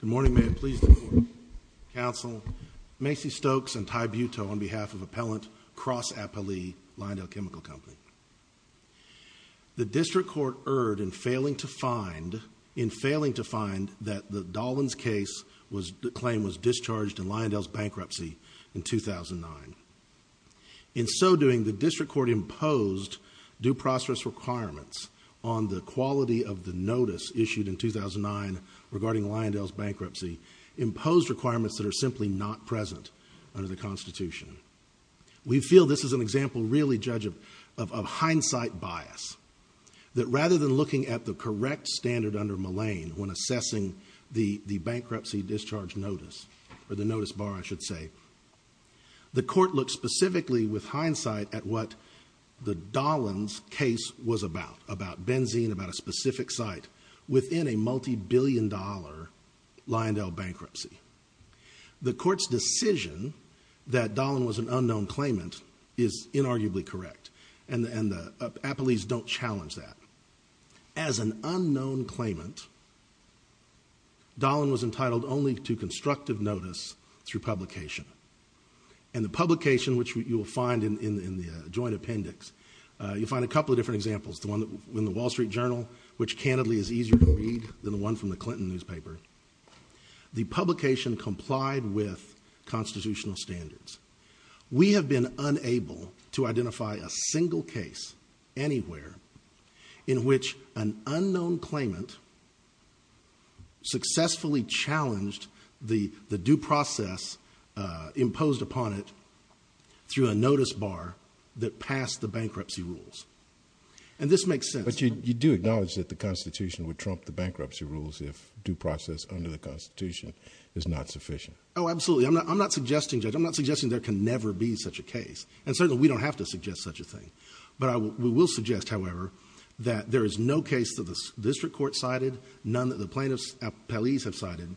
Good morning, may it please the court, counsel, Macy Stokes and Ty Buto on behalf of Appellant Cross-Appalee, Lyondell Chemical Company. The district court erred in failing to find that Dahlin's claim was discharged in Lyondell's bankruptcy in 2009. In so doing, the district court imposed due process requirements on the quality of the notice issued in 2009 regarding Lyondell's bankruptcy, imposed requirements that are simply not present under the Constitution. We feel this is an example really, Judge, of hindsight bias, that rather than looking at the correct standard under Mullane when assessing the bankruptcy discharge notice or the notice bar, I should say, the court looked specifically with hindsight at what the Dahlin's case was about, about benzene, about a specific site within a multi-billion dollar Lyondell bankruptcy. The court's decision that Dahlin was an unknown claimant is inarguably correct and the Appalees don't challenge that. As an unknown claimant, Dahlin was entitled only to constructive notice through publication. And the publication, which you will find in the joint appendix, you'll find a couple of different examples. The one in the Wall Street Journal, which candidly is easier to read than the one from the Clinton newspaper. The publication complied with constitutional standards. We have been unable to identify a single case anywhere in which an unknown claimant successfully challenged the due process imposed upon it through a notice bar that passed the bankruptcy rules. And this makes sense. But you do acknowledge that the Constitution would trump the bankruptcy rules if due process under the Constitution is not sufficient. Oh, absolutely. I'm not suggesting, Judge. I'm not suggesting there can never be such a case. And certainly, we don't have to suggest such a thing. But we will suggest, however, that there is no case that the district court cited, none that the plaintiffs at Appalees have cited,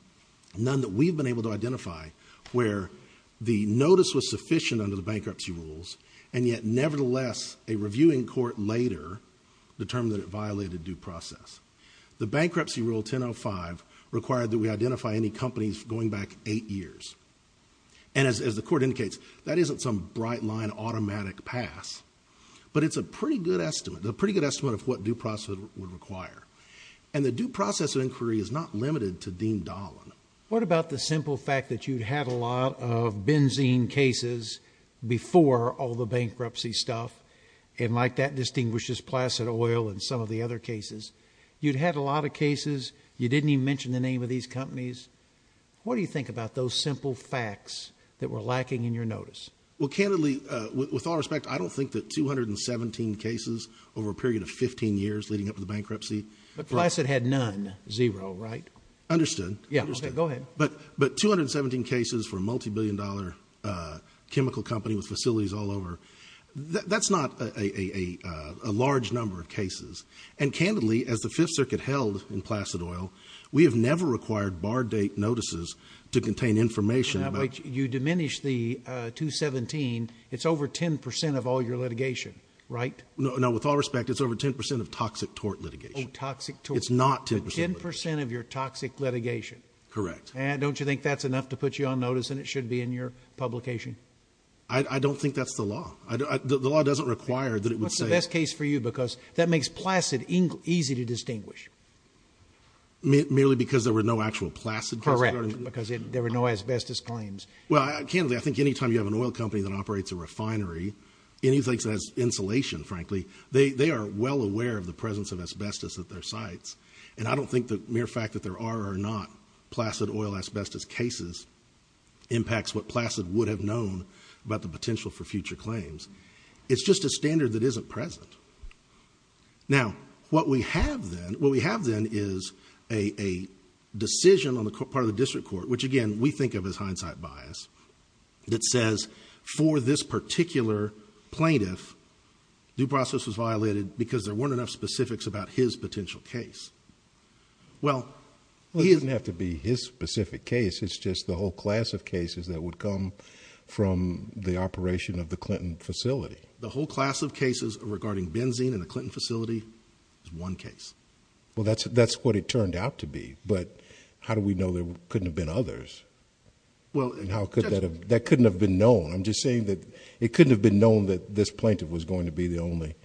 none that we've been able to identify where the notice was sufficient under the bankruptcy rules and yet, nevertheless, a reviewing court later determined that it violated due process. The bankruptcy rule 1005 required that we identify any companies going back eight years. And as the court indicates, that isn't some bright line automatic pass, but it's a pretty good estimate, a pretty good estimate of what due process would require. And the due process inquiry is not limited to Dean Dolan. What about the simple fact that you'd had a lot of benzene cases before all the bankruptcy stuff and like that distinguishes Placid Oil and some of the other cases? You'd had a lot of cases. You didn't even mention the name of these companies. What do you think about those simple facts that were lacking in your notice? Well, candidly, with all respect, I don't think that 217 cases over a period of 15 years leading up to the bankruptcy. But Placid had none, zero, right? Understood. Yeah, go ahead. But 217 cases for a multi-billion dollar chemical company with facilities all over, that's not a large number of cases. And candidly, as the Fifth Circuit held in Placid Oil, we have never required bar date notices to contain information. You diminish the 217. It's over 10% of all your litigation, right? No, with all respect, it's over 10% of toxic tort litigation. It's not 10%. 10% of your toxic litigation. Correct. And don't you think that's enough to put you on notice and it should be in your publication? I don't think that's the law. The law doesn't require that it would say... Because that makes Placid easy to distinguish. Merely because there were no actual Placid cases? Correct. Because there were no asbestos claims. Well, candidly, I think any time you have an oil company that operates a refinery, anything that has insulation, frankly, they are well aware of the presence of asbestos at their sites. And I don't think the mere fact that there are or not Placid Oil asbestos cases impacts what Placid would have known about the potential for future claims. It's just a standard that isn't present. Now, what we have then, what we have then is a decision on the part of the district court, which again, we think of as hindsight bias, that says for this particular plaintiff, due process was violated because there weren't enough specifics about his potential case. Well, he... Well, it doesn't have to be his specific case, it's just the whole class of cases that would have come from the operation of the Clinton facility. The whole class of cases regarding benzene in the Clinton facility is one case. Well, that's what it turned out to be. But how do we know there couldn't have been others? Well... And how could that have... That couldn't have been known. I'm just saying that it couldn't have been known that this plaintiff was going to be the only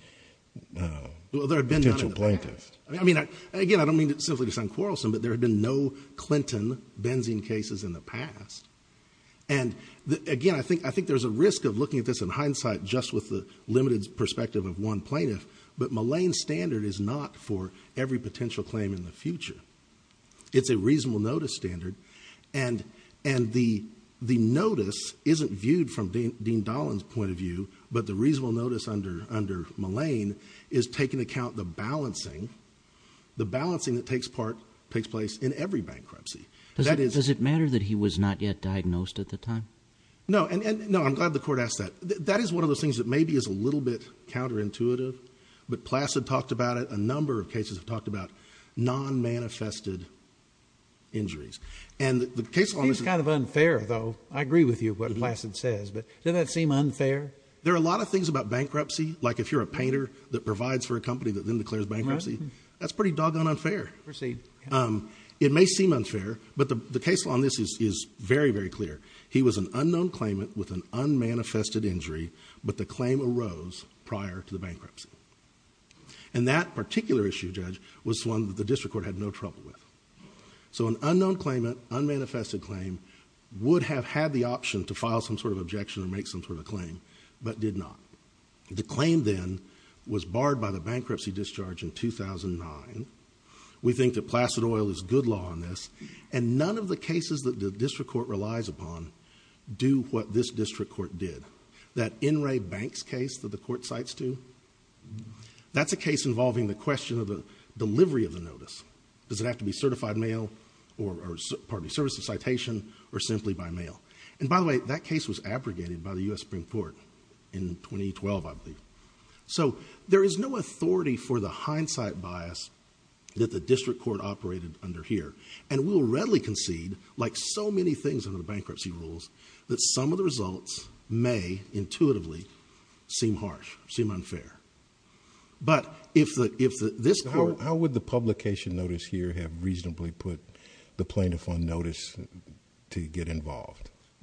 potential plaintiff. Well, there had been none in the past. I mean, again, I don't mean simply to sound quarrelsome, but there had been no Clinton benzene cases in the past. And again, I think there's a risk of looking at this in hindsight just with the limited perspective of one plaintiff, but Mullane's standard is not for every potential claim in the future. It's a reasonable notice standard, and the notice isn't viewed from Dean Dolan's point of view, but the reasonable notice under Mullane is taking account the balancing, the balancing that takes place in every bankruptcy. Does it matter that he was not yet diagnosed at the time? No. No, I'm glad the court asked that. That is one of those things that maybe is a little bit counterintuitive, but Placid talked about it. A number of cases have talked about non-manifested injuries. And the case on this... It seems kind of unfair, though. I agree with you of what Placid says, but doesn't that seem unfair? There are a lot of things about bankruptcy, like if you're a painter that provides for a company that then declares bankruptcy, that's pretty doggone unfair. It may seem unfair, but the case on this is very, very clear. He was an unknown claimant with an unmanifested injury, but the claim arose prior to the bankruptcy. And that particular issue, Judge, was one that the district court had no trouble with. So an unknown claimant, unmanifested claim, would have had the option to file some sort of objection and make some sort of claim, but did not. The claim then was barred by the bankruptcy discharge in 2009. We think that Placid Oil is good law on this, and none of the cases that the district court relies upon do what this district court did. That NRA Banks case that the court cites to, that's a case involving the question of the delivery of the notice. Does it have to be certified mail or, pardon me, service of citation or simply by mail? And by the way, that case was abrogated by the U.S. Supreme Court in 2012, I believe. So there is no authority for the hindsight bias that the district court operated under here, and we will readily concede, like so many things under the bankruptcy rules, that some of the results may intuitively seem harsh, seem unfair. But if this court... The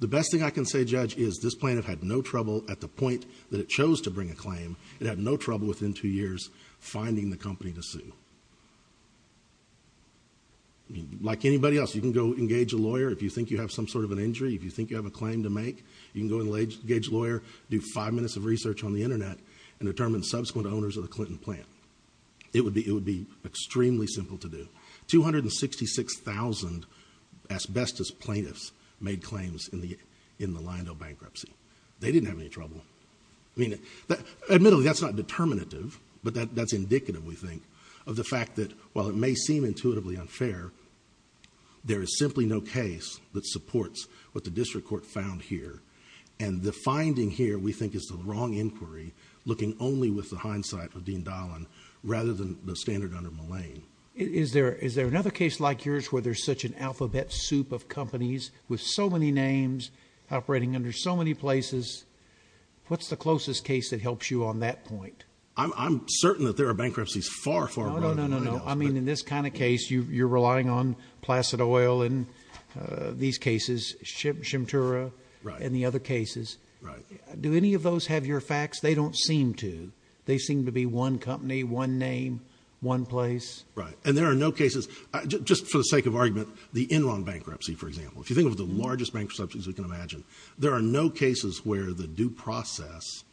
best thing I can say, Judge, is this plaintiff had no trouble, at the point that it chose to bring a claim, it had no trouble within two years finding the company to sue. Like anybody else, you can go engage a lawyer if you think you have some sort of an injury, if you think you have a claim to make, you can go engage a lawyer, do five minutes of research on the internet, and determine subsequent owners of the Clinton plant. It would be extremely simple to do. Two hundred and sixty-six thousand asbestos plaintiffs made claims in the Lyondell bankruptcy. They didn't have any trouble. I mean, admittedly, that's not determinative, but that's indicative, we think, of the fact that while it may seem intuitively unfair, there is simply no case that supports what the district court found here. And the finding here, we think, is the wrong inquiry, looking only with the hindsight of Dean Dahlin rather than the standard under Mullane. Is there another case like yours where there's such an alphabet soup of companies with so many names, operating under so many places, what's the closest case that helps you on that point? I'm certain that there are bankruptcies far, far above Lyondell's. No, no, no, no. I mean, in this kind of case, you're relying on Placid Oil in these cases, Shimtura, and the other cases. Do any of those have your facts? They don't seem to. They seem to be one company, one name, one place. Right. And there are no cases, just for the sake of argument, the Enron bankruptcy, for example. If you think of the largest bankruptcy, as we can imagine, there are no cases where the due process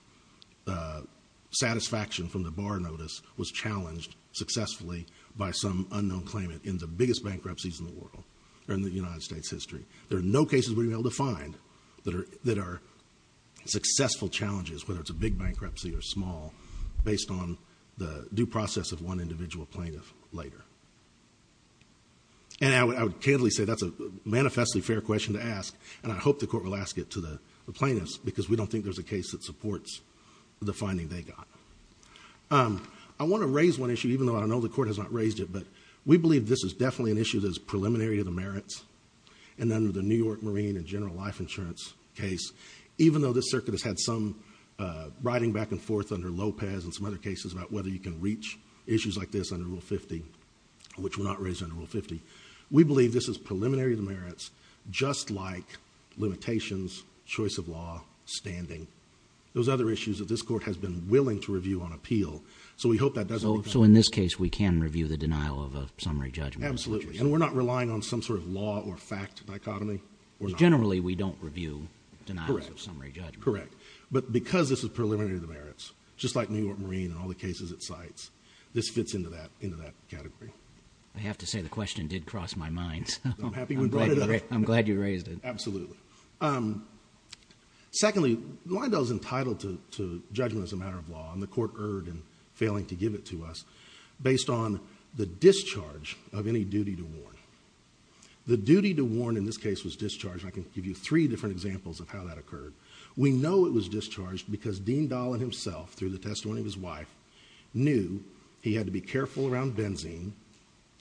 satisfaction from the bar notice was challenged successfully by some unknown claimant in the biggest bankruptcies in the world, or in the United States history. There are no cases we've been able to find that are successful challenges, whether it's a big bankruptcy or small, based on the due process of one individual plaintiff later. And I would candidly say that's a manifestly fair question to ask, and I hope the court will ask it to the plaintiffs, because we don't think there's a case that supports the finding they got. I want to raise one issue, even though I know the court has not raised it, but we believe this is definitely an issue that is preliminary to the merits, and under the New York Marine and General Life Insurance case, even though this circuit has had some riding back and forth under Lopez and some other cases about whether you can reach issues like this under Rule 50, which were not raised under Rule 50. We believe this is preliminary to the merits, just like limitations, choice of law, standing, those other issues that this court has been willing to review on appeal. So we hope that doesn't become- So in this case, we can review the denial of a summary judgment. Absolutely. And we're not relying on some sort of law or fact dichotomy. Generally, we don't review denials of summary judgment. Correct. But because this is preliminary to the merits, just like New York Marine and all the cases it cites, this fits into that category. I have to say the question did cross my mind, so I'm glad you raised it. Absolutely. Secondly, Lyndell is entitled to judgment as a matter of law, and the court erred in failing to give it to us, based on the discharge of any duty to warn. The duty to warn in this case was discharged, and I can give you three different examples of how that occurred. We know it was discharged because Dean Dollin himself, through the testimony of his wife, knew he had to be careful around benzene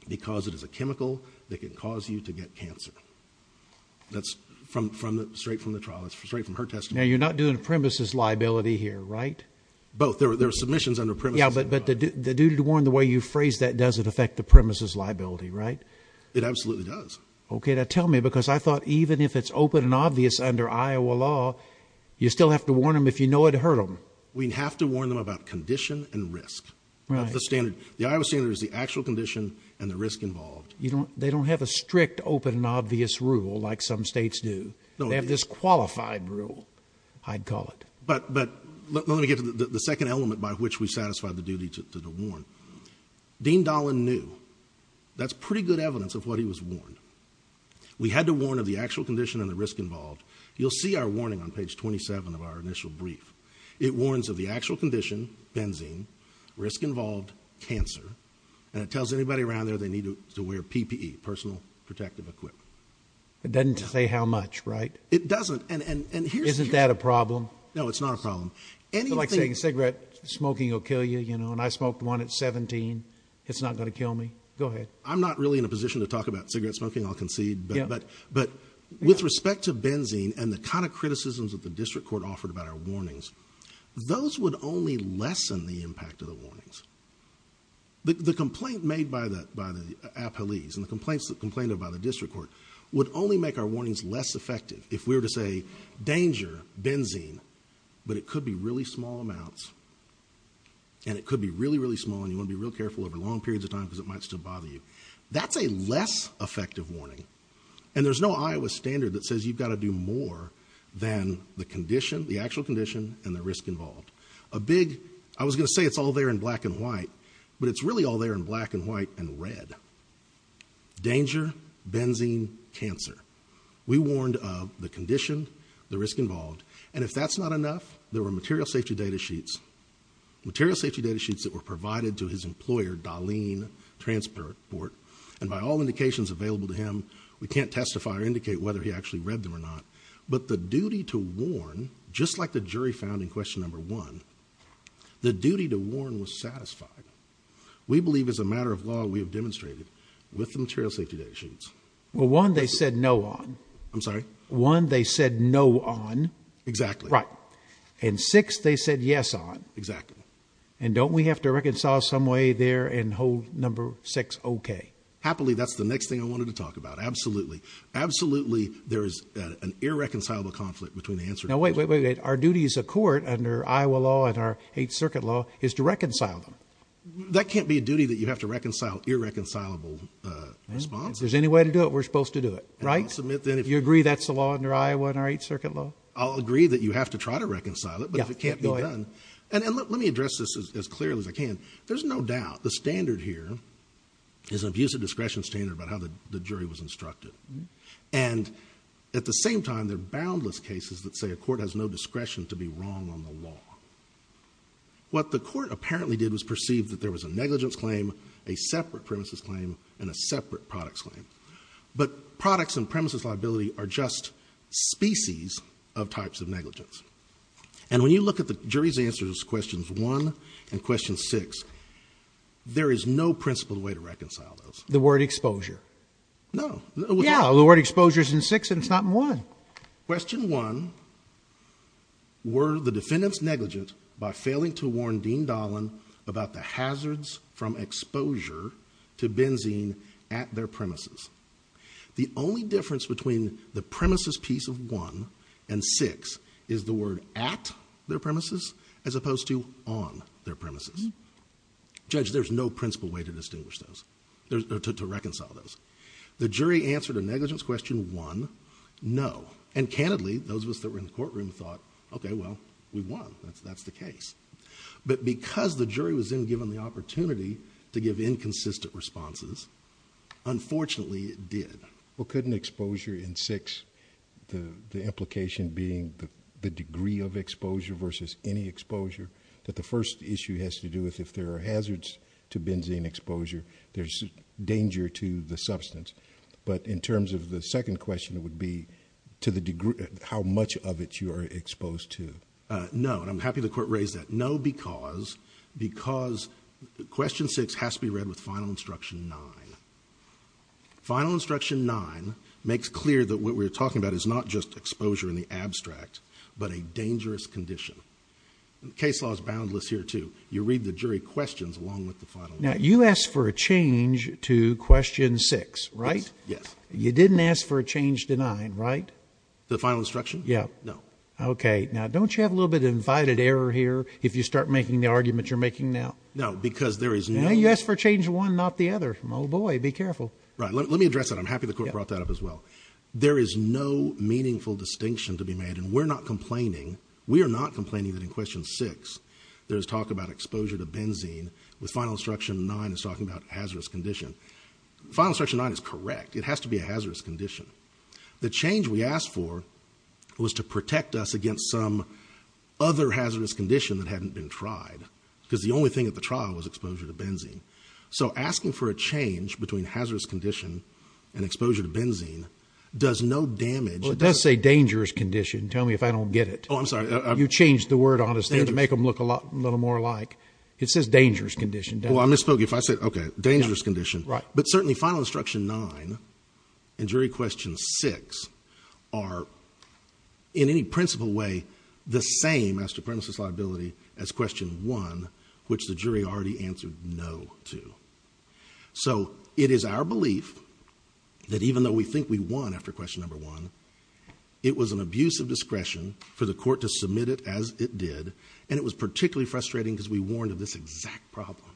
because it is a chemical that can cause you to get cancer. That's straight from the trial. That's straight from her testimony. Now, you're not doing a premises liability here, right? Both. There were submissions under premises. Yeah, but the duty to warn, the way you phrased that, doesn't affect the premises liability, right? It absolutely does. Okay, now tell me, because I thought even if it's open and obvious under Iowa law, you still have to warn them if you know it'll hurt them. We have to warn them about condition and risk. The Iowa standard is the actual condition and the risk involved. They don't have a strict open and obvious rule like some states do. They have this qualified rule, I'd call it. But let me get to the second element by which we satisfy the duty to warn. Dean Dolan knew. That's pretty good evidence of what he was warned. We had to warn of the actual condition and the risk involved. You'll see our warning on page 27 of our initial brief. It warns of the actual condition, benzene, risk involved, cancer, and it tells anybody around there they need to wear PPE, personal protective equipment. It doesn't say how much, right? It doesn't. Isn't that a problem? No, it's not a problem. It's like saying cigarette smoking will kill you, you know, and I smoked one at 17. It's not going to kill me. Go ahead. I'm not really in a position to talk about cigarette smoking, I'll concede. But with respect to benzene and the kind of criticisms that the district court offered about our warnings, those would only lessen the impact of the warnings. The complaint made by the appellees and the complaints that complained about the district court would only make our warnings less effective if we were to say, danger, benzene, but it could be really small amounts, and it could be really, really small, and you want to be real careful over long periods of time because it might still bother you. That's a less effective warning, and there's no Iowa standard that says you've got to do more than the condition, the actual condition, and the risk involved. A big, I was going to say it's all there in black and white, but it's really all there in black and white and red. Danger, benzene, cancer. We warned of the condition, the risk involved, and if that's not enough, there were material safety data sheets, material safety data sheets that were provided to his employer, Darlene Transport, and by all indications available to him, we can't testify or indicate whether he actually read them or not, but the duty to warn, just like the jury found in question number one, the duty to warn was satisfied. We believe as a matter of law, we have demonstrated with the material safety data sheets. Well, one, they said no on. I'm sorry. One, they said no on. Exactly. Right. And six, they said yes on. Exactly. And don't we have to reconcile some way there and hold number six OK? Happily, that's the next thing I wanted to talk about. Absolutely. Absolutely. There is an irreconcilable conflict between the answer. Now, wait, wait, wait. Our duty as a court under Iowa law and our Eighth Circuit law is to reconcile them. That can't be a duty that you have to reconcile. Irreconcilable response. If there's any way to do it, we're supposed to do it. Right. I'll submit that if you agree that's the law under Iowa and our Eighth Circuit law, I'll agree that you have to try to reconcile it. But if it can't be done. And let me address this as clearly as I can. There's no doubt the standard here is an abusive discretion standard about how the jury was instructed. And at the same time, there are boundless cases that say a court has no discretion to be wrong on the law. What the court apparently did was perceive that there was a negligence claim, a negligence claim. But products and premises liability are just species of types of negligence. And when you look at the jury's answers, questions one and question six, there is no principled way to reconcile those. The word exposure. No, the word exposure is in six and it's not in one. Question one. Were the defendants negligent by failing to warn Dean Dolan about the The only difference between the premises piece of one and six is the word at their premises as opposed to on their premises. Judge, there's no principled way to distinguish those, to reconcile those. The jury answered a negligence question one. No. And candidly, those of us that were in the courtroom thought, OK, well, we won. That's the case. But because the jury was then given the opportunity to give inconsistent responses, unfortunately, it did. Well, couldn't exposure in six. The implication being the degree of exposure versus any exposure that the first issue has to do with if there are hazards to benzene exposure, there's danger to the substance. But in terms of the second question, it would be to the degree how much of it you are exposed to. No. And I'm happy the court raised that. No, because because question six has to be read with final instruction, nine final instruction, nine makes clear that what we're talking about is not just exposure in the abstract, but a dangerous condition. Case law is boundless here, too. You read the jury questions along with the final. Now, you asked for a change to question six, right? Yes. You didn't ask for a change to nine, right? The final instruction? Yeah. No. OK. Now, don't you have a little bit of invited error here? If you start making the argument you're making now? No, because there is no yes for change. One, not the other. Oh, boy. Be careful. Right. Let me address that. I'm happy the court brought that up as well. There is no meaningful distinction to be made. And we're not complaining. We are not complaining that in question six, there's talk about exposure to benzene with final instruction. Nine is talking about hazardous condition. Final section nine is correct. It has to be a hazardous condition. The change we asked for was to protect us against some other hazardous condition that hadn't been tried because the only thing at the trial was exposure to benzene. So asking for a change between hazardous condition and exposure to benzene does no damage. It does say dangerous condition. Tell me if I don't get it. Oh, I'm sorry. You changed the word on us to make them look a little more like it says dangerous condition. Well, I misspoke if I said, OK, dangerous condition. Right. But certainly final instruction nine and jury question six are in any principle way the same as supremacist liability as question one, which the jury already answered no to. So it is our belief that even though we think we won after question number one, it was an abuse of discretion for the court to submit it as it did. And it was particularly frustrating because we warned of this exact problem.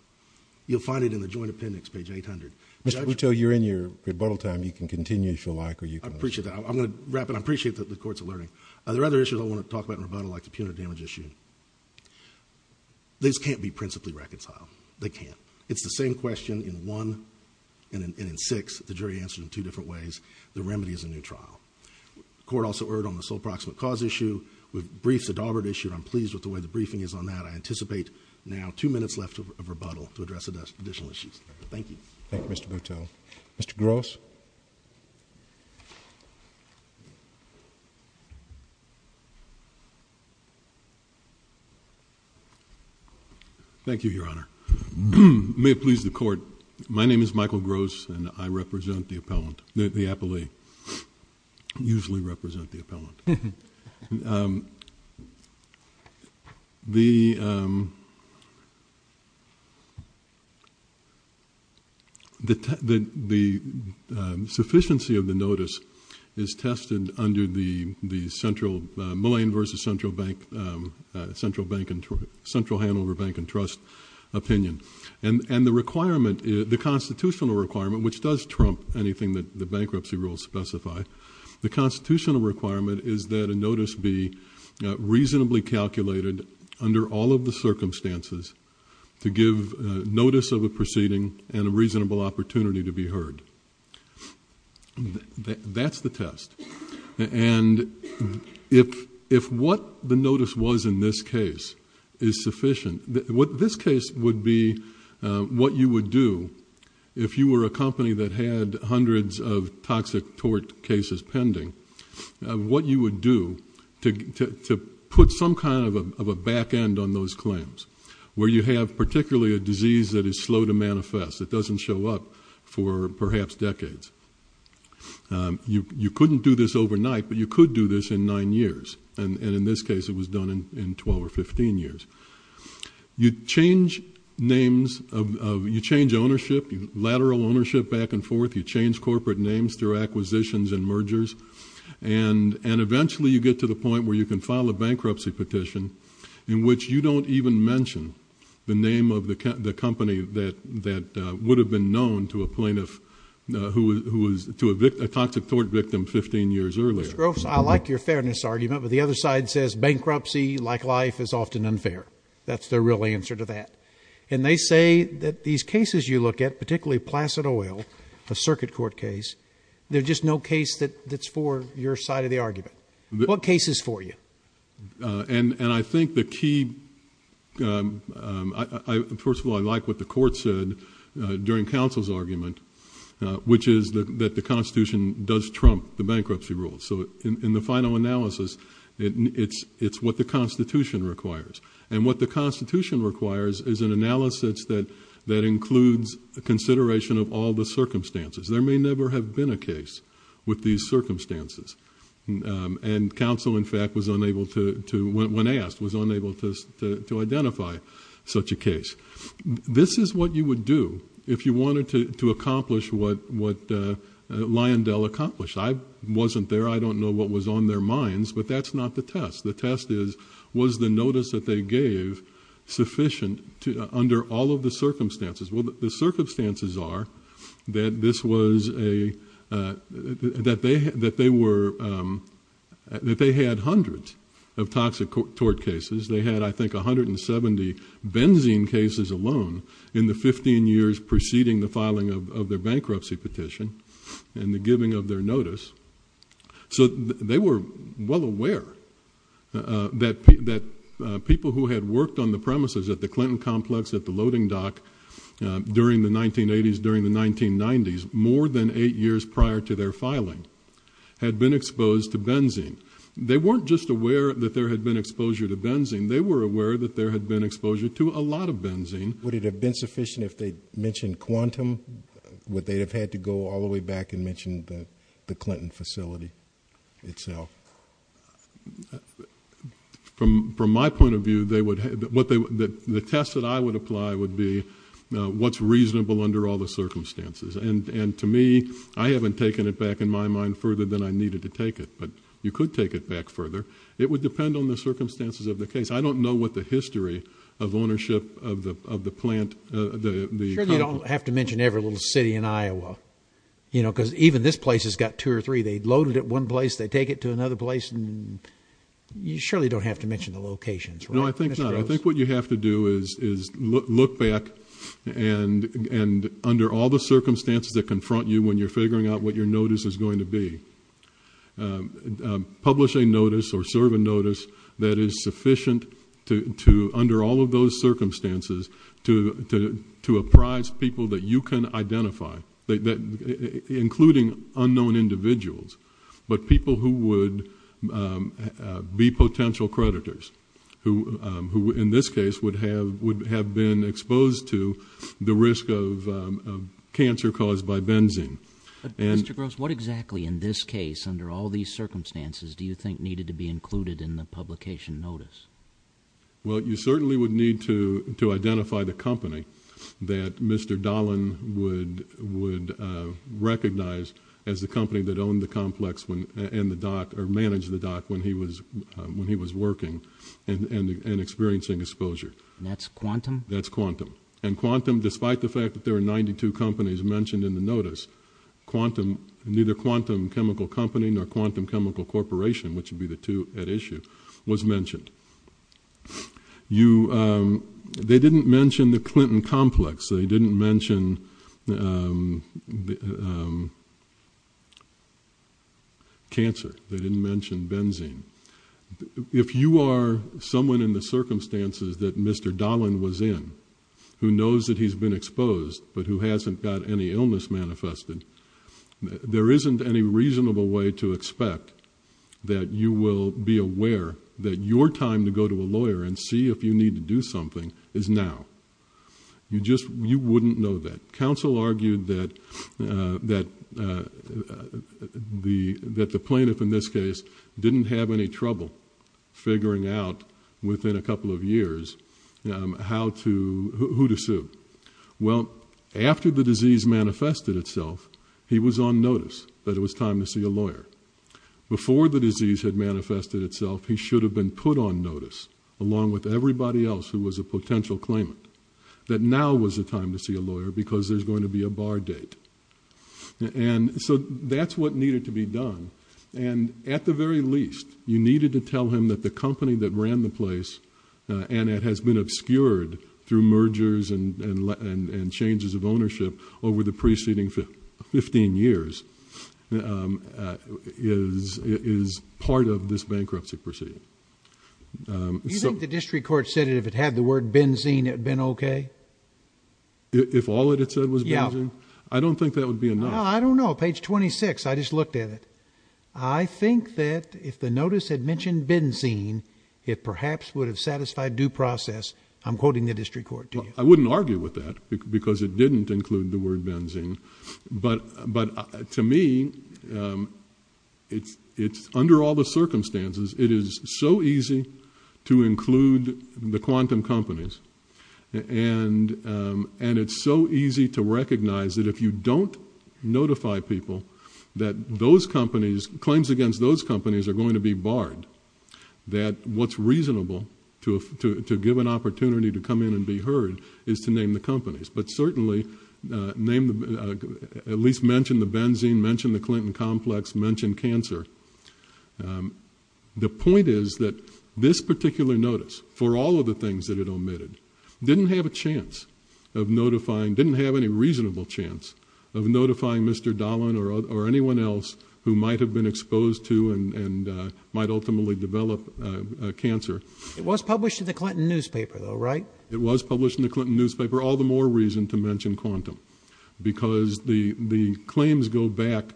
You'll find it in the joint appendix, page 800. Mr. Buto, you're in your rebuttal time. You can continue if you like, or you appreciate that. I'm going to wrap it. I appreciate that the courts are learning. There are other issues I want to talk about in rebuttal, like the punitive damage issue. This can't be principally reconciled. They can't. It's the same question in one and in six. The jury answered in two different ways. The remedy is a new trial. Court also heard on the sole proximate cause issue with briefs at Auburn issued. I'm pleased with the way the briefing is on that. I anticipate now two minutes left of rebuttal to address additional issues. Thank you, Mr. Buto. Mr. Gross. Thank you, Your Honor, may it please the court. My name is Michael Gross, and I represent the appellant. The appellee usually represent the appellant. The. The the the sufficiency of the notice is tested under the the central malign versus central bank, central bank and central handover bank and trust opinion. And the requirement, the constitutional requirement, which does trump anything that the bankruptcy rules specify. The constitutional requirement is that a notice be reasonably calculated under all of the circumstances to give notice of a proceeding and a reasonable opportunity to be heard. That's the test. And if if what the notice was in this case is sufficient, what this case would be, what you would do if you were a company that had hundreds of toxic tort cases pending, what you would do to to put some kind of a back end on those claims where you have particularly a disease that is slow to manifest. It doesn't show up for perhaps decades. You couldn't do this overnight, but you could do this in nine years. And in this case, it was done in 12 or 15 years. You change names of you change ownership, lateral ownership back and forth. You change corporate names through acquisitions and mergers. And and eventually you get to the point where you can file a bankruptcy petition in which you don't even mention the name of the company that that would have been known to a plaintiff who was to evict a toxic tort victim 15 years earlier. I like your fairness argument, but the other side says bankruptcy like life is often unfair. That's the real answer to that. And they say that these cases you look at, particularly Placid Oil, a circuit court case, there's just no case that that's for your side of the argument. What case is for you? And I think the key I first of all, I like what the court said during counsel's argument, which is that the Constitution does trump the bankruptcy rules. So in the final analysis, it's it's what the Constitution requires. And what the Constitution requires is an analysis that that includes the consideration of all the circumstances. There may never have been a case with these circumstances. And counsel, in fact, was unable to when asked, was unable to to identify such a case. This is what you would do if you wanted to to accomplish what what Lyondell accomplished. I wasn't there. I don't know what was on their minds. But that's not the test. The test is, was the notice that they gave sufficient to under all of the circumstances? Well, the circumstances are that this was a that they that they were that they had hundreds of toxic tort cases. They had, I think, 170 benzene cases alone in the 15 years preceding the filing of their bankruptcy petition. And the giving of their notice. So they were well aware that that people who had worked on the premises at the Clinton complex, at the loading dock during the 1980s, during the 1990s, more than eight years prior to their filing had been exposed to benzene. They weren't just aware that there had been exposure to benzene. They were aware that there had been exposure to a lot of benzene. Would it have been sufficient if they mentioned quantum what they have had to go all the way back and mentioned that the Clinton facility itself? From from my point of view, they would what they would that the test that I would apply would be what's reasonable under all the circumstances. And to me, I haven't taken it back in my mind further than I needed to take it. But you could take it back further. It would depend on the circumstances of the case. I don't know what the history of ownership of the of the plant, the you don't have to mention every little city in Iowa, you know, because even this place has got two or three. They loaded it one place. They take it to another place. And you surely don't have to mention the locations. No, I think not. I think what you have to do is is look back and and under all the circumstances that confront you when you're figuring out what your notice is going to be publish a notice or serve a notice that is sufficient to to under all of those circumstances, to to to apprise people that you can identify including unknown individuals, but people who would be potential creditors who who in this case would have would have been exposed to the risk of cancer caused by benzene. And what exactly in this case, under all these circumstances, do you think needed to be included in the publication notice? Well, you certainly would need to to identify the company that Mr. Dahlin would would recognize as the company that owned the complex and the dock or manage the dock when he was when he was working and experiencing exposure. And that's quantum. That's quantum. And quantum, despite the fact that there are 92 companies mentioned in the notice quantum, neither quantum chemical company nor quantum chemical corporation, which would be the two at issue was mentioned. You they didn't mention the Clinton complex. They didn't mention the. Cancer, they didn't mention benzene. If you are someone in the circumstances that Mr. Dahlin was in, who knows that he's been exposed, but who hasn't got any illness manifested, there isn't any reasonable way to expect that you will be aware that your time to go to a lawyer and see if you need to do something is now. You just you wouldn't know that. Counsel argued that that the that the plaintiff in this case didn't have any trouble figuring out within a couple of years how to who to sue. Well, after the disease manifested itself, he was on notice that it was time to see a lawyer. Before the disease had manifested itself, he should have been put on notice along with everybody else who was a potential claimant that now was the time to see a lawyer because there's going to be a bar date. And so that's what needed to be done. And at the very least, you needed to tell him that the company that ran the place and it has been obscured through mergers and and and changes of ownership over the preceding 15 years is is part of this bankruptcy proceeding. So the district court said it, if it had the word Benzene, it'd been OK. If all it had said was, yeah, I don't think that would be enough. I don't know. Page 26. I just looked at it. I think that if the notice had mentioned Benzene, it perhaps would have satisfied due process. I'm quoting the district court. I wouldn't argue with that because it didn't include the word Benzene. But but to me, it's it's under all the circumstances, it is so easy to include the quantum companies. And and it's so easy to recognize that if you don't notify people that those companies claims against those companies are going to be barred, that what's reasonable to to to give an opportunity to come in and be heard is to name the companies, but certainly name at least mention the Benzene, mention the Clinton complex, mention cancer. The point is that this particular notice for all of the things that it omitted didn't have a chance of notifying, didn't have any reasonable chance of notifying Mr. Dolan or anyone else who might have been exposed to and might ultimately develop cancer. It was published in the Clinton newspaper, though, right? It was published in the Clinton newspaper, all the more reason to mention quantum because the the claims go back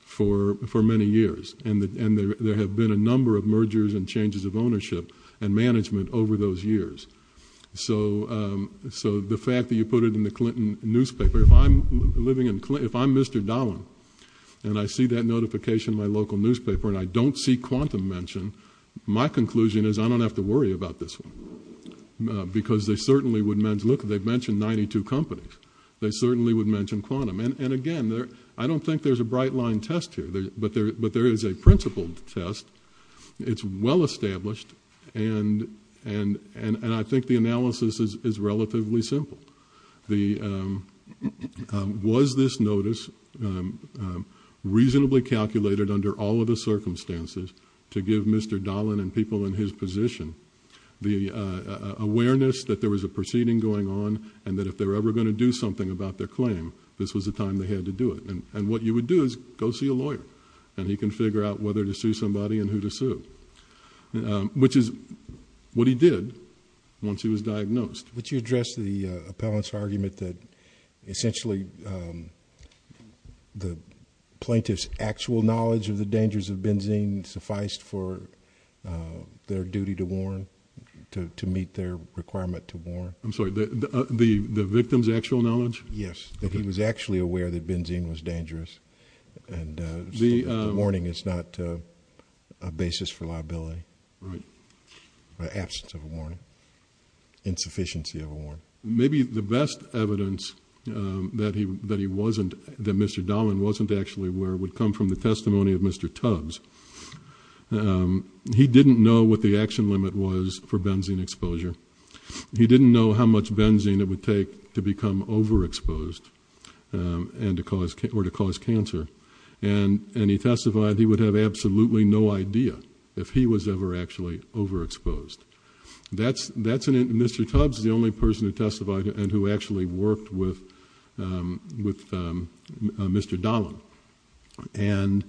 for for many years. And and there have been a number of mergers and changes of ownership and management over those years. So so the fact that you put it in the Clinton newspaper, if I'm living in if I'm Mr. Dolan and I see that notification, my local newspaper and I don't see quantum mention, my conclusion is I don't have to worry about this one because they certainly would. Look, they've mentioned 92 companies. They certainly would mention quantum. And again, I don't think there's a bright line test here, but there but there is a principled test. It's well established. And and and I think the analysis is relatively simple. The was this notice reasonably calculated under all of the circumstances to give Mr. Dolan and people in his position the awareness that there was a proceeding going on and that if they're ever going to do something about their claim, this was the time they had to do it. And and what you would do is go see a lawyer and he can figure out whether to sue somebody and who to sue, which is what he did once he was diagnosed. Would you address the appellant's argument that essentially the plaintiff's actual knowledge of the dangers of benzene sufficed for their duty to warn to to meet their requirement to warn? I'm sorry, the the the victim's actual knowledge? Yes, that he was actually aware that benzene was dangerous. And the warning is not a basis for liability. Right. Absence of a warning. Insufficiency of a warrant. Maybe the best evidence that he that he wasn't that Mr. Dolan wasn't actually where would come from the testimony of Mr. Tubbs. He didn't know what the action limit was for benzene exposure. He didn't know how much benzene it would take to become overexposed and to cause or to cause cancer. And and he testified he would have absolutely no idea if he was ever actually overexposed. That's that's in it. Mr. Tubbs, the only person who testified and who actually worked with with Mr. Dolan. And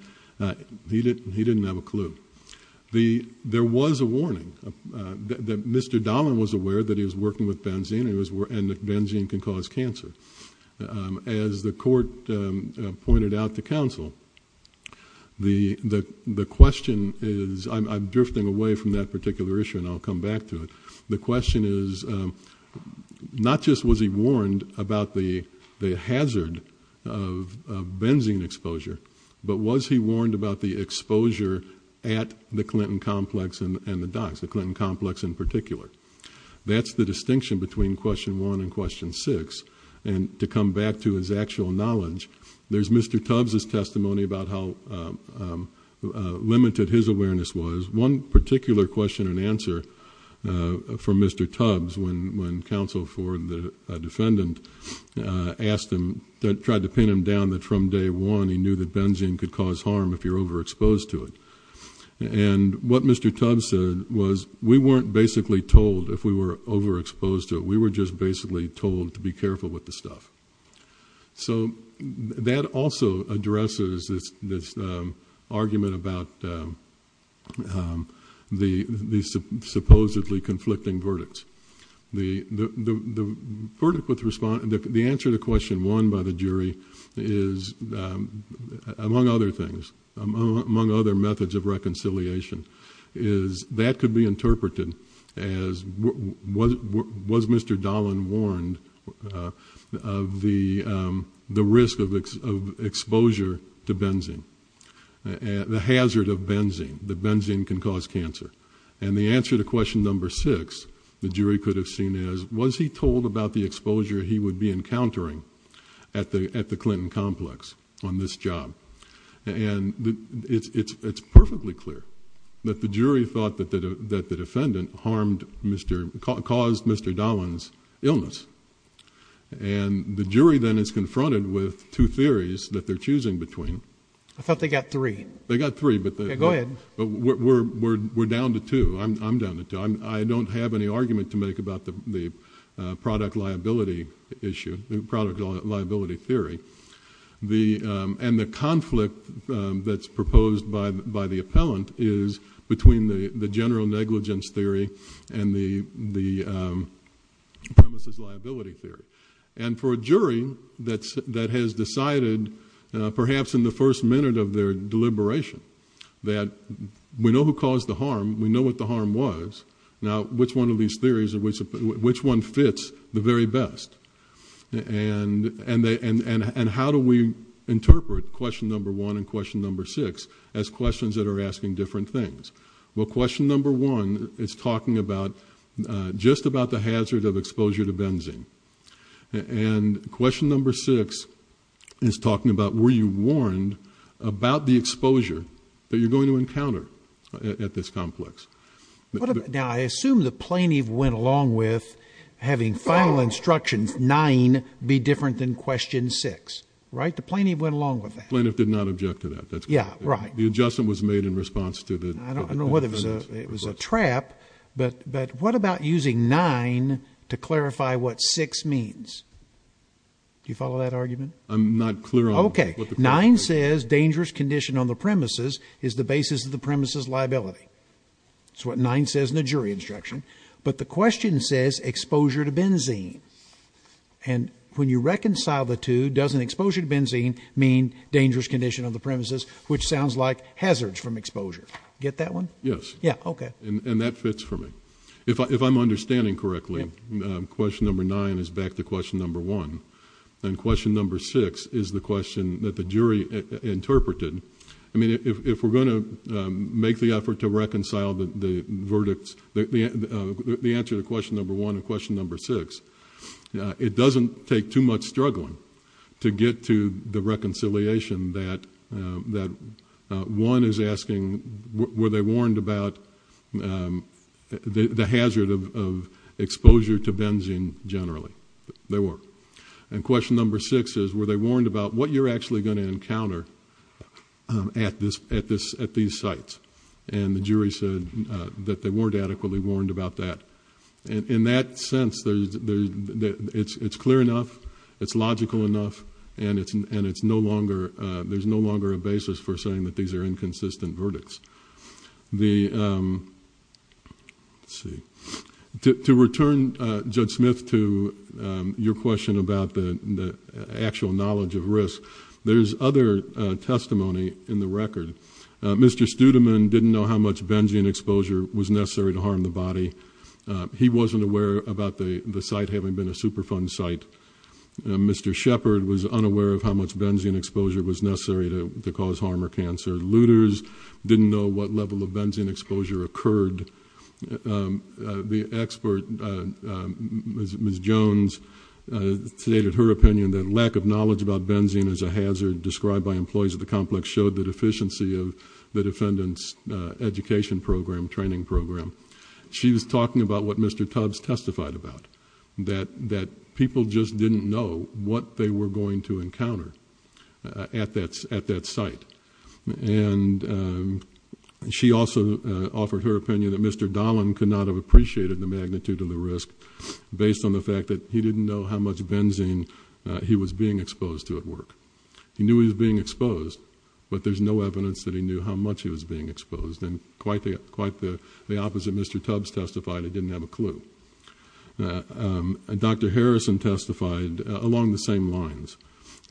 he didn't he didn't have a clue. The there was a warning that Mr. Dolan was aware that he was working with benzene. It was and benzene can cause cancer. As the court pointed out to counsel, the the the question is I'm drifting away from that particular issue. And I'll come back to it. The question is not just was he warned about the the hazard of benzene exposure, but was he warned about the exposure at the Clinton complex and the docks, the Clinton complex in particular? That's the distinction between question one and question six. And to come back to his actual knowledge, there's Mr. Tubbs testimony about how limited his awareness was. One particular question and answer for Mr. Tubbs when when counsel for the defendant asked him that tried to pin him down that from day one, he knew that benzene could cause harm if you're overexposed to it. And what Mr. Tubbs said was we weren't basically told if we were overexposed to it, we were just basically told to be careful with the stuff. So that also addresses this this argument about the these supposedly conflicting verdicts. The the the verdict with the response and the answer to question one by the jury is, among other things, among other methods of reconciliation, is that could be interpreted as what was Mr. Dolan warned of the the risk of exposure to benzene and the hazard of benzene, the benzene can cause cancer. And the answer to question number six, the jury could have seen as was he told about the exposure he would be encountering at the at the Clinton complex on this job? And it's it's it's perfectly clear that the jury thought that that the defendant harmed Mr. caused Mr. Dolan's illness. And the jury then is confronted with two theories that they're choosing between. I thought they got three. They got three. But go ahead. But we're we're we're down to two. I'm down to two. I don't have any argument to make about the the product liability issue, the product liability theory. The and the conflict that's proposed by the appellant is between the general negligence theory and the the premises liability theory. And for a jury that's that has decided perhaps in the first minute of their deliberation that we know who caused the harm, we know what the harm was. Now, which one of these theories or which which one fits the very best? And and they and and how do we interpret question number one and question number six as questions that are asking different things? Well, question number one is talking about just about the hazard of exposure to benzene. And question number six is talking about where you warned about the exposure that you're going to encounter at this complex. Now, I assume the plaintiff went along with having final instructions nine be different than question six, right? The plaintiff went along with that. Plaintiff did not object to that. Yeah, right. The adjustment was made in response to the I don't know what it was. It was a trap. But but what about using nine to clarify what six means? Do you follow that argument? I'm not clear. OK. Nine says dangerous condition on the premises is the basis of the premises liability. It's what nine says in the jury instruction. But the question says exposure to benzene. And when you reconcile the two, doesn't exposure to benzene mean dangerous condition of the premises, which sounds like hazards from exposure? Get that one? Yes. Yeah. OK. And that fits for me. If I'm understanding correctly, question number nine is back to question number one and question number six is the question that the jury interpreted. I mean, if we're going to make the effort to reconcile the verdicts, the answer to question number one and question number six, it doesn't take too much struggling to get to the reconciliation that that one is asking, were they warned about the hazard of exposure to benzene? Generally, they were. And question number six is, were they warned about what you're actually going to encounter at this at this at these sites? And the jury said that they weren't adequately warned about that. And in that sense, there's there's it's it's clear enough. It's logical enough. And it's and it's no longer there's no longer a basis for saying that these are inconsistent verdicts. The. See, to return Judge Smith to your question about the actual knowledge of risk, there's other testimony in the record. Mr. Studeman didn't know how much benzene exposure was necessary to harm the body. He wasn't aware about the site having been a Superfund site. Mr. Shepherd was unaware of how much benzene exposure was necessary to cause harm or cancer. Looters didn't know what level of benzene exposure occurred. The expert, Ms. Jones, stated her opinion that lack of knowledge about benzene as a hazard described by employees of the complex showed the deficiency of the defendant's education program, training program. She was talking about what Mr. Tubbs testified about, that that people just didn't know what they were going to encounter at that at that site. And she also offered her opinion that Mr. Dahlin could not have appreciated the magnitude of the risk based on the fact that he didn't know how much benzene he was being exposed to at work. He knew he was being exposed, but there's no evidence that he knew how much he was being exposed. And quite the quite the opposite. Mr. Tubbs testified he didn't have a clue. Dr. Harrison testified along the same lines.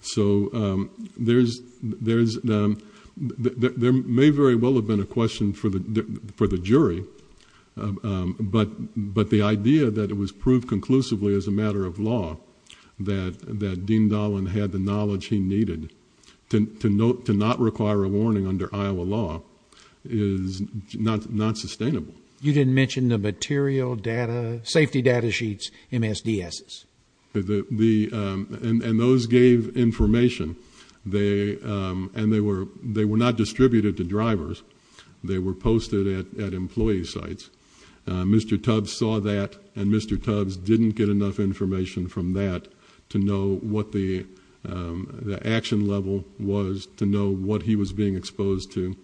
So there's there's there may very well have been a question for the for the jury. But but the idea that it was proved conclusively as a matter of law that that Dean Dahlin had the knowledge he needed to to note to not require a warning under Iowa law is not not sustainable. You didn't mention the material data, safety data sheets, MSDS. The the and those gave information. They and they were they were not distributed to drivers. They were posted at employee sites. Mr. Tubbs saw that. And Mr. Tubbs didn't get enough information from that to know what the the action level was, to know what he was being exposed to.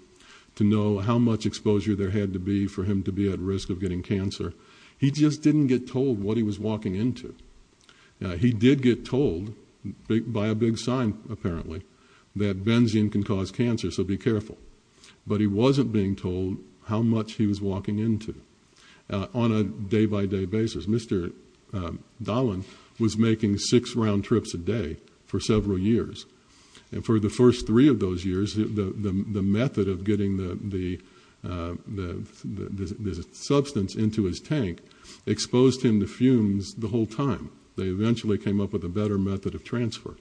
To know how much exposure there had to be for him to be at risk of getting cancer. He just didn't get told what he was walking into. He did get told by a big sign, apparently, that benzene can cause cancer. So be careful. But he wasn't being told how much he was walking into on a day by day basis. Mr. Dahlin was making six round trips a day for several years. And for the first three of those years, the the method of getting the the the the substance into his tank exposed him to fumes the whole time. They eventually came up with a better method of transfer.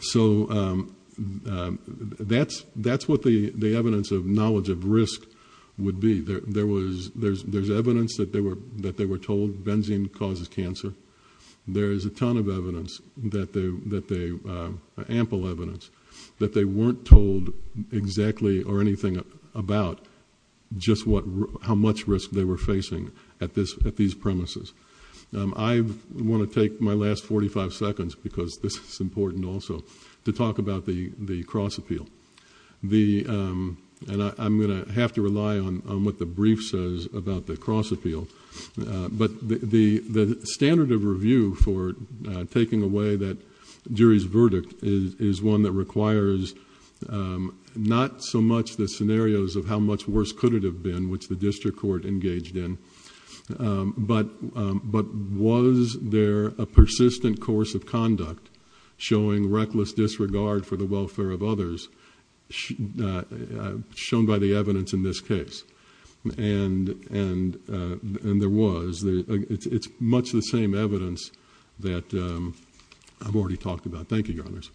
So that's that's what the the evidence of knowledge of risk would be. There was there's there's evidence that they were that they were told benzene causes cancer. There is a ton of evidence that they that they ample evidence. That they weren't told exactly or anything about just what how much risk they were facing at this at these premises. I want to take my last 45 seconds, because this is important also to talk about the the cross appeal. The and I'm going to have to rely on what the brief says about the cross appeal. But the the standard of review for taking away that jury's acquires not so much the scenarios of how much worse could it have been, which the district court engaged in. But but was there a persistent course of conduct showing reckless disregard for the welfare of others shown by the evidence in this case? And and and there was the it's much the same evidence that I've already talked about. Thank you, Your Honors.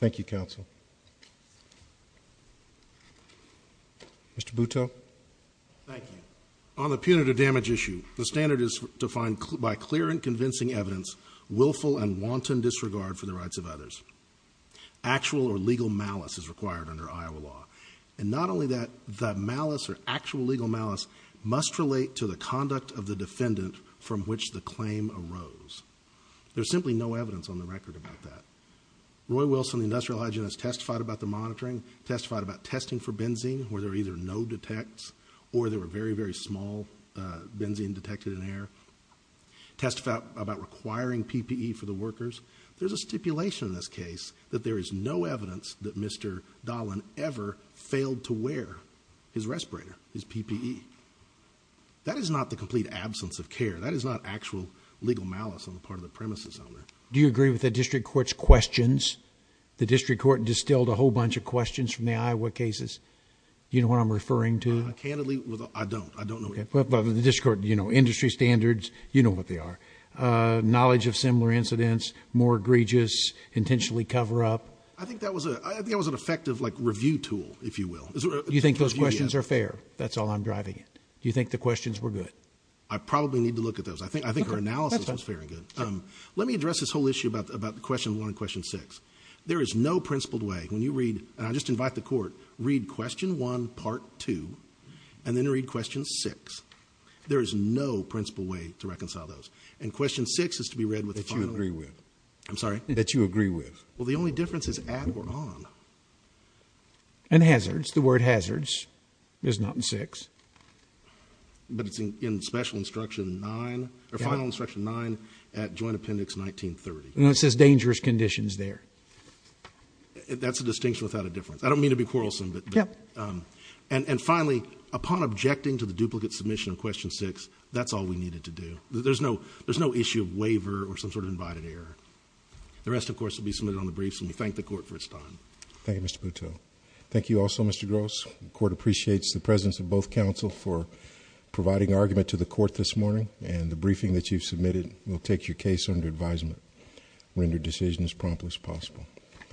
Thank you, counsel. Mr. Boutot. Thank you. On the punitive damage issue, the standard is defined by clear and convincing evidence, willful and wanton disregard for the rights of others. Actual or legal malice is required under Iowa law. And not only that, that malice or actual legal malice must relate to the conduct of the defendant from which the claim arose. There's simply no evidence on the record about that. Roy Wilson, the industrial hygienist, testified about the monitoring, testified about testing for benzene where there are either no detects or there were very, very small benzene detected in air. Test about about requiring PPE for the workers. There's a stipulation in this case that there is no evidence that Mr. Dahlin ever failed to wear his respirator, his PPE. That is not the complete absence of care. That is not actual legal malice on the part of the premises owner. Do you agree with the district court's questions? The district court distilled a whole bunch of questions from the Iowa cases. You know what I'm referring to? Candidly, I don't. I don't know. But the district court, you know, industry standards, you know what they are. Knowledge of similar incidents, more egregious, intentionally cover up. I think that was a I think it was an effective like review tool, if you will. Do you think those questions are fair? That's all I'm driving. Do you think the questions were good? I probably need to look at those. I think I think her analysis was very good. Let me address this whole issue about about the question on question six. There is no principled way when you read. And I just invite the court read question one, part two, and then read question six. There is no principled way to reconcile those. And question six is to be read with the agreement. I'm sorry that you agree with. Well, the only difference is at or on. And hazards, the word hazards is not in six. But it's in special instruction, nine or final instruction, nine at Joint Appendix 1930. And that's as dangerous conditions there. That's a distinction without a difference. I don't mean to be quarrelsome, but yeah. And finally, upon objecting to the duplicate submission of question six, that's all we needed to do. There's no there's no issue of waiver or some sort of invited error. The rest, of course, will be submitted on the briefs and we thank the court for its time. Thank you, Mr. Poteau. Thank you also, Mr. Gross. The court appreciates the presence of both counsel for providing argument to the court this morning and the briefing that you've received will take your case under advisement, render decision as promptly as possible. Thank you.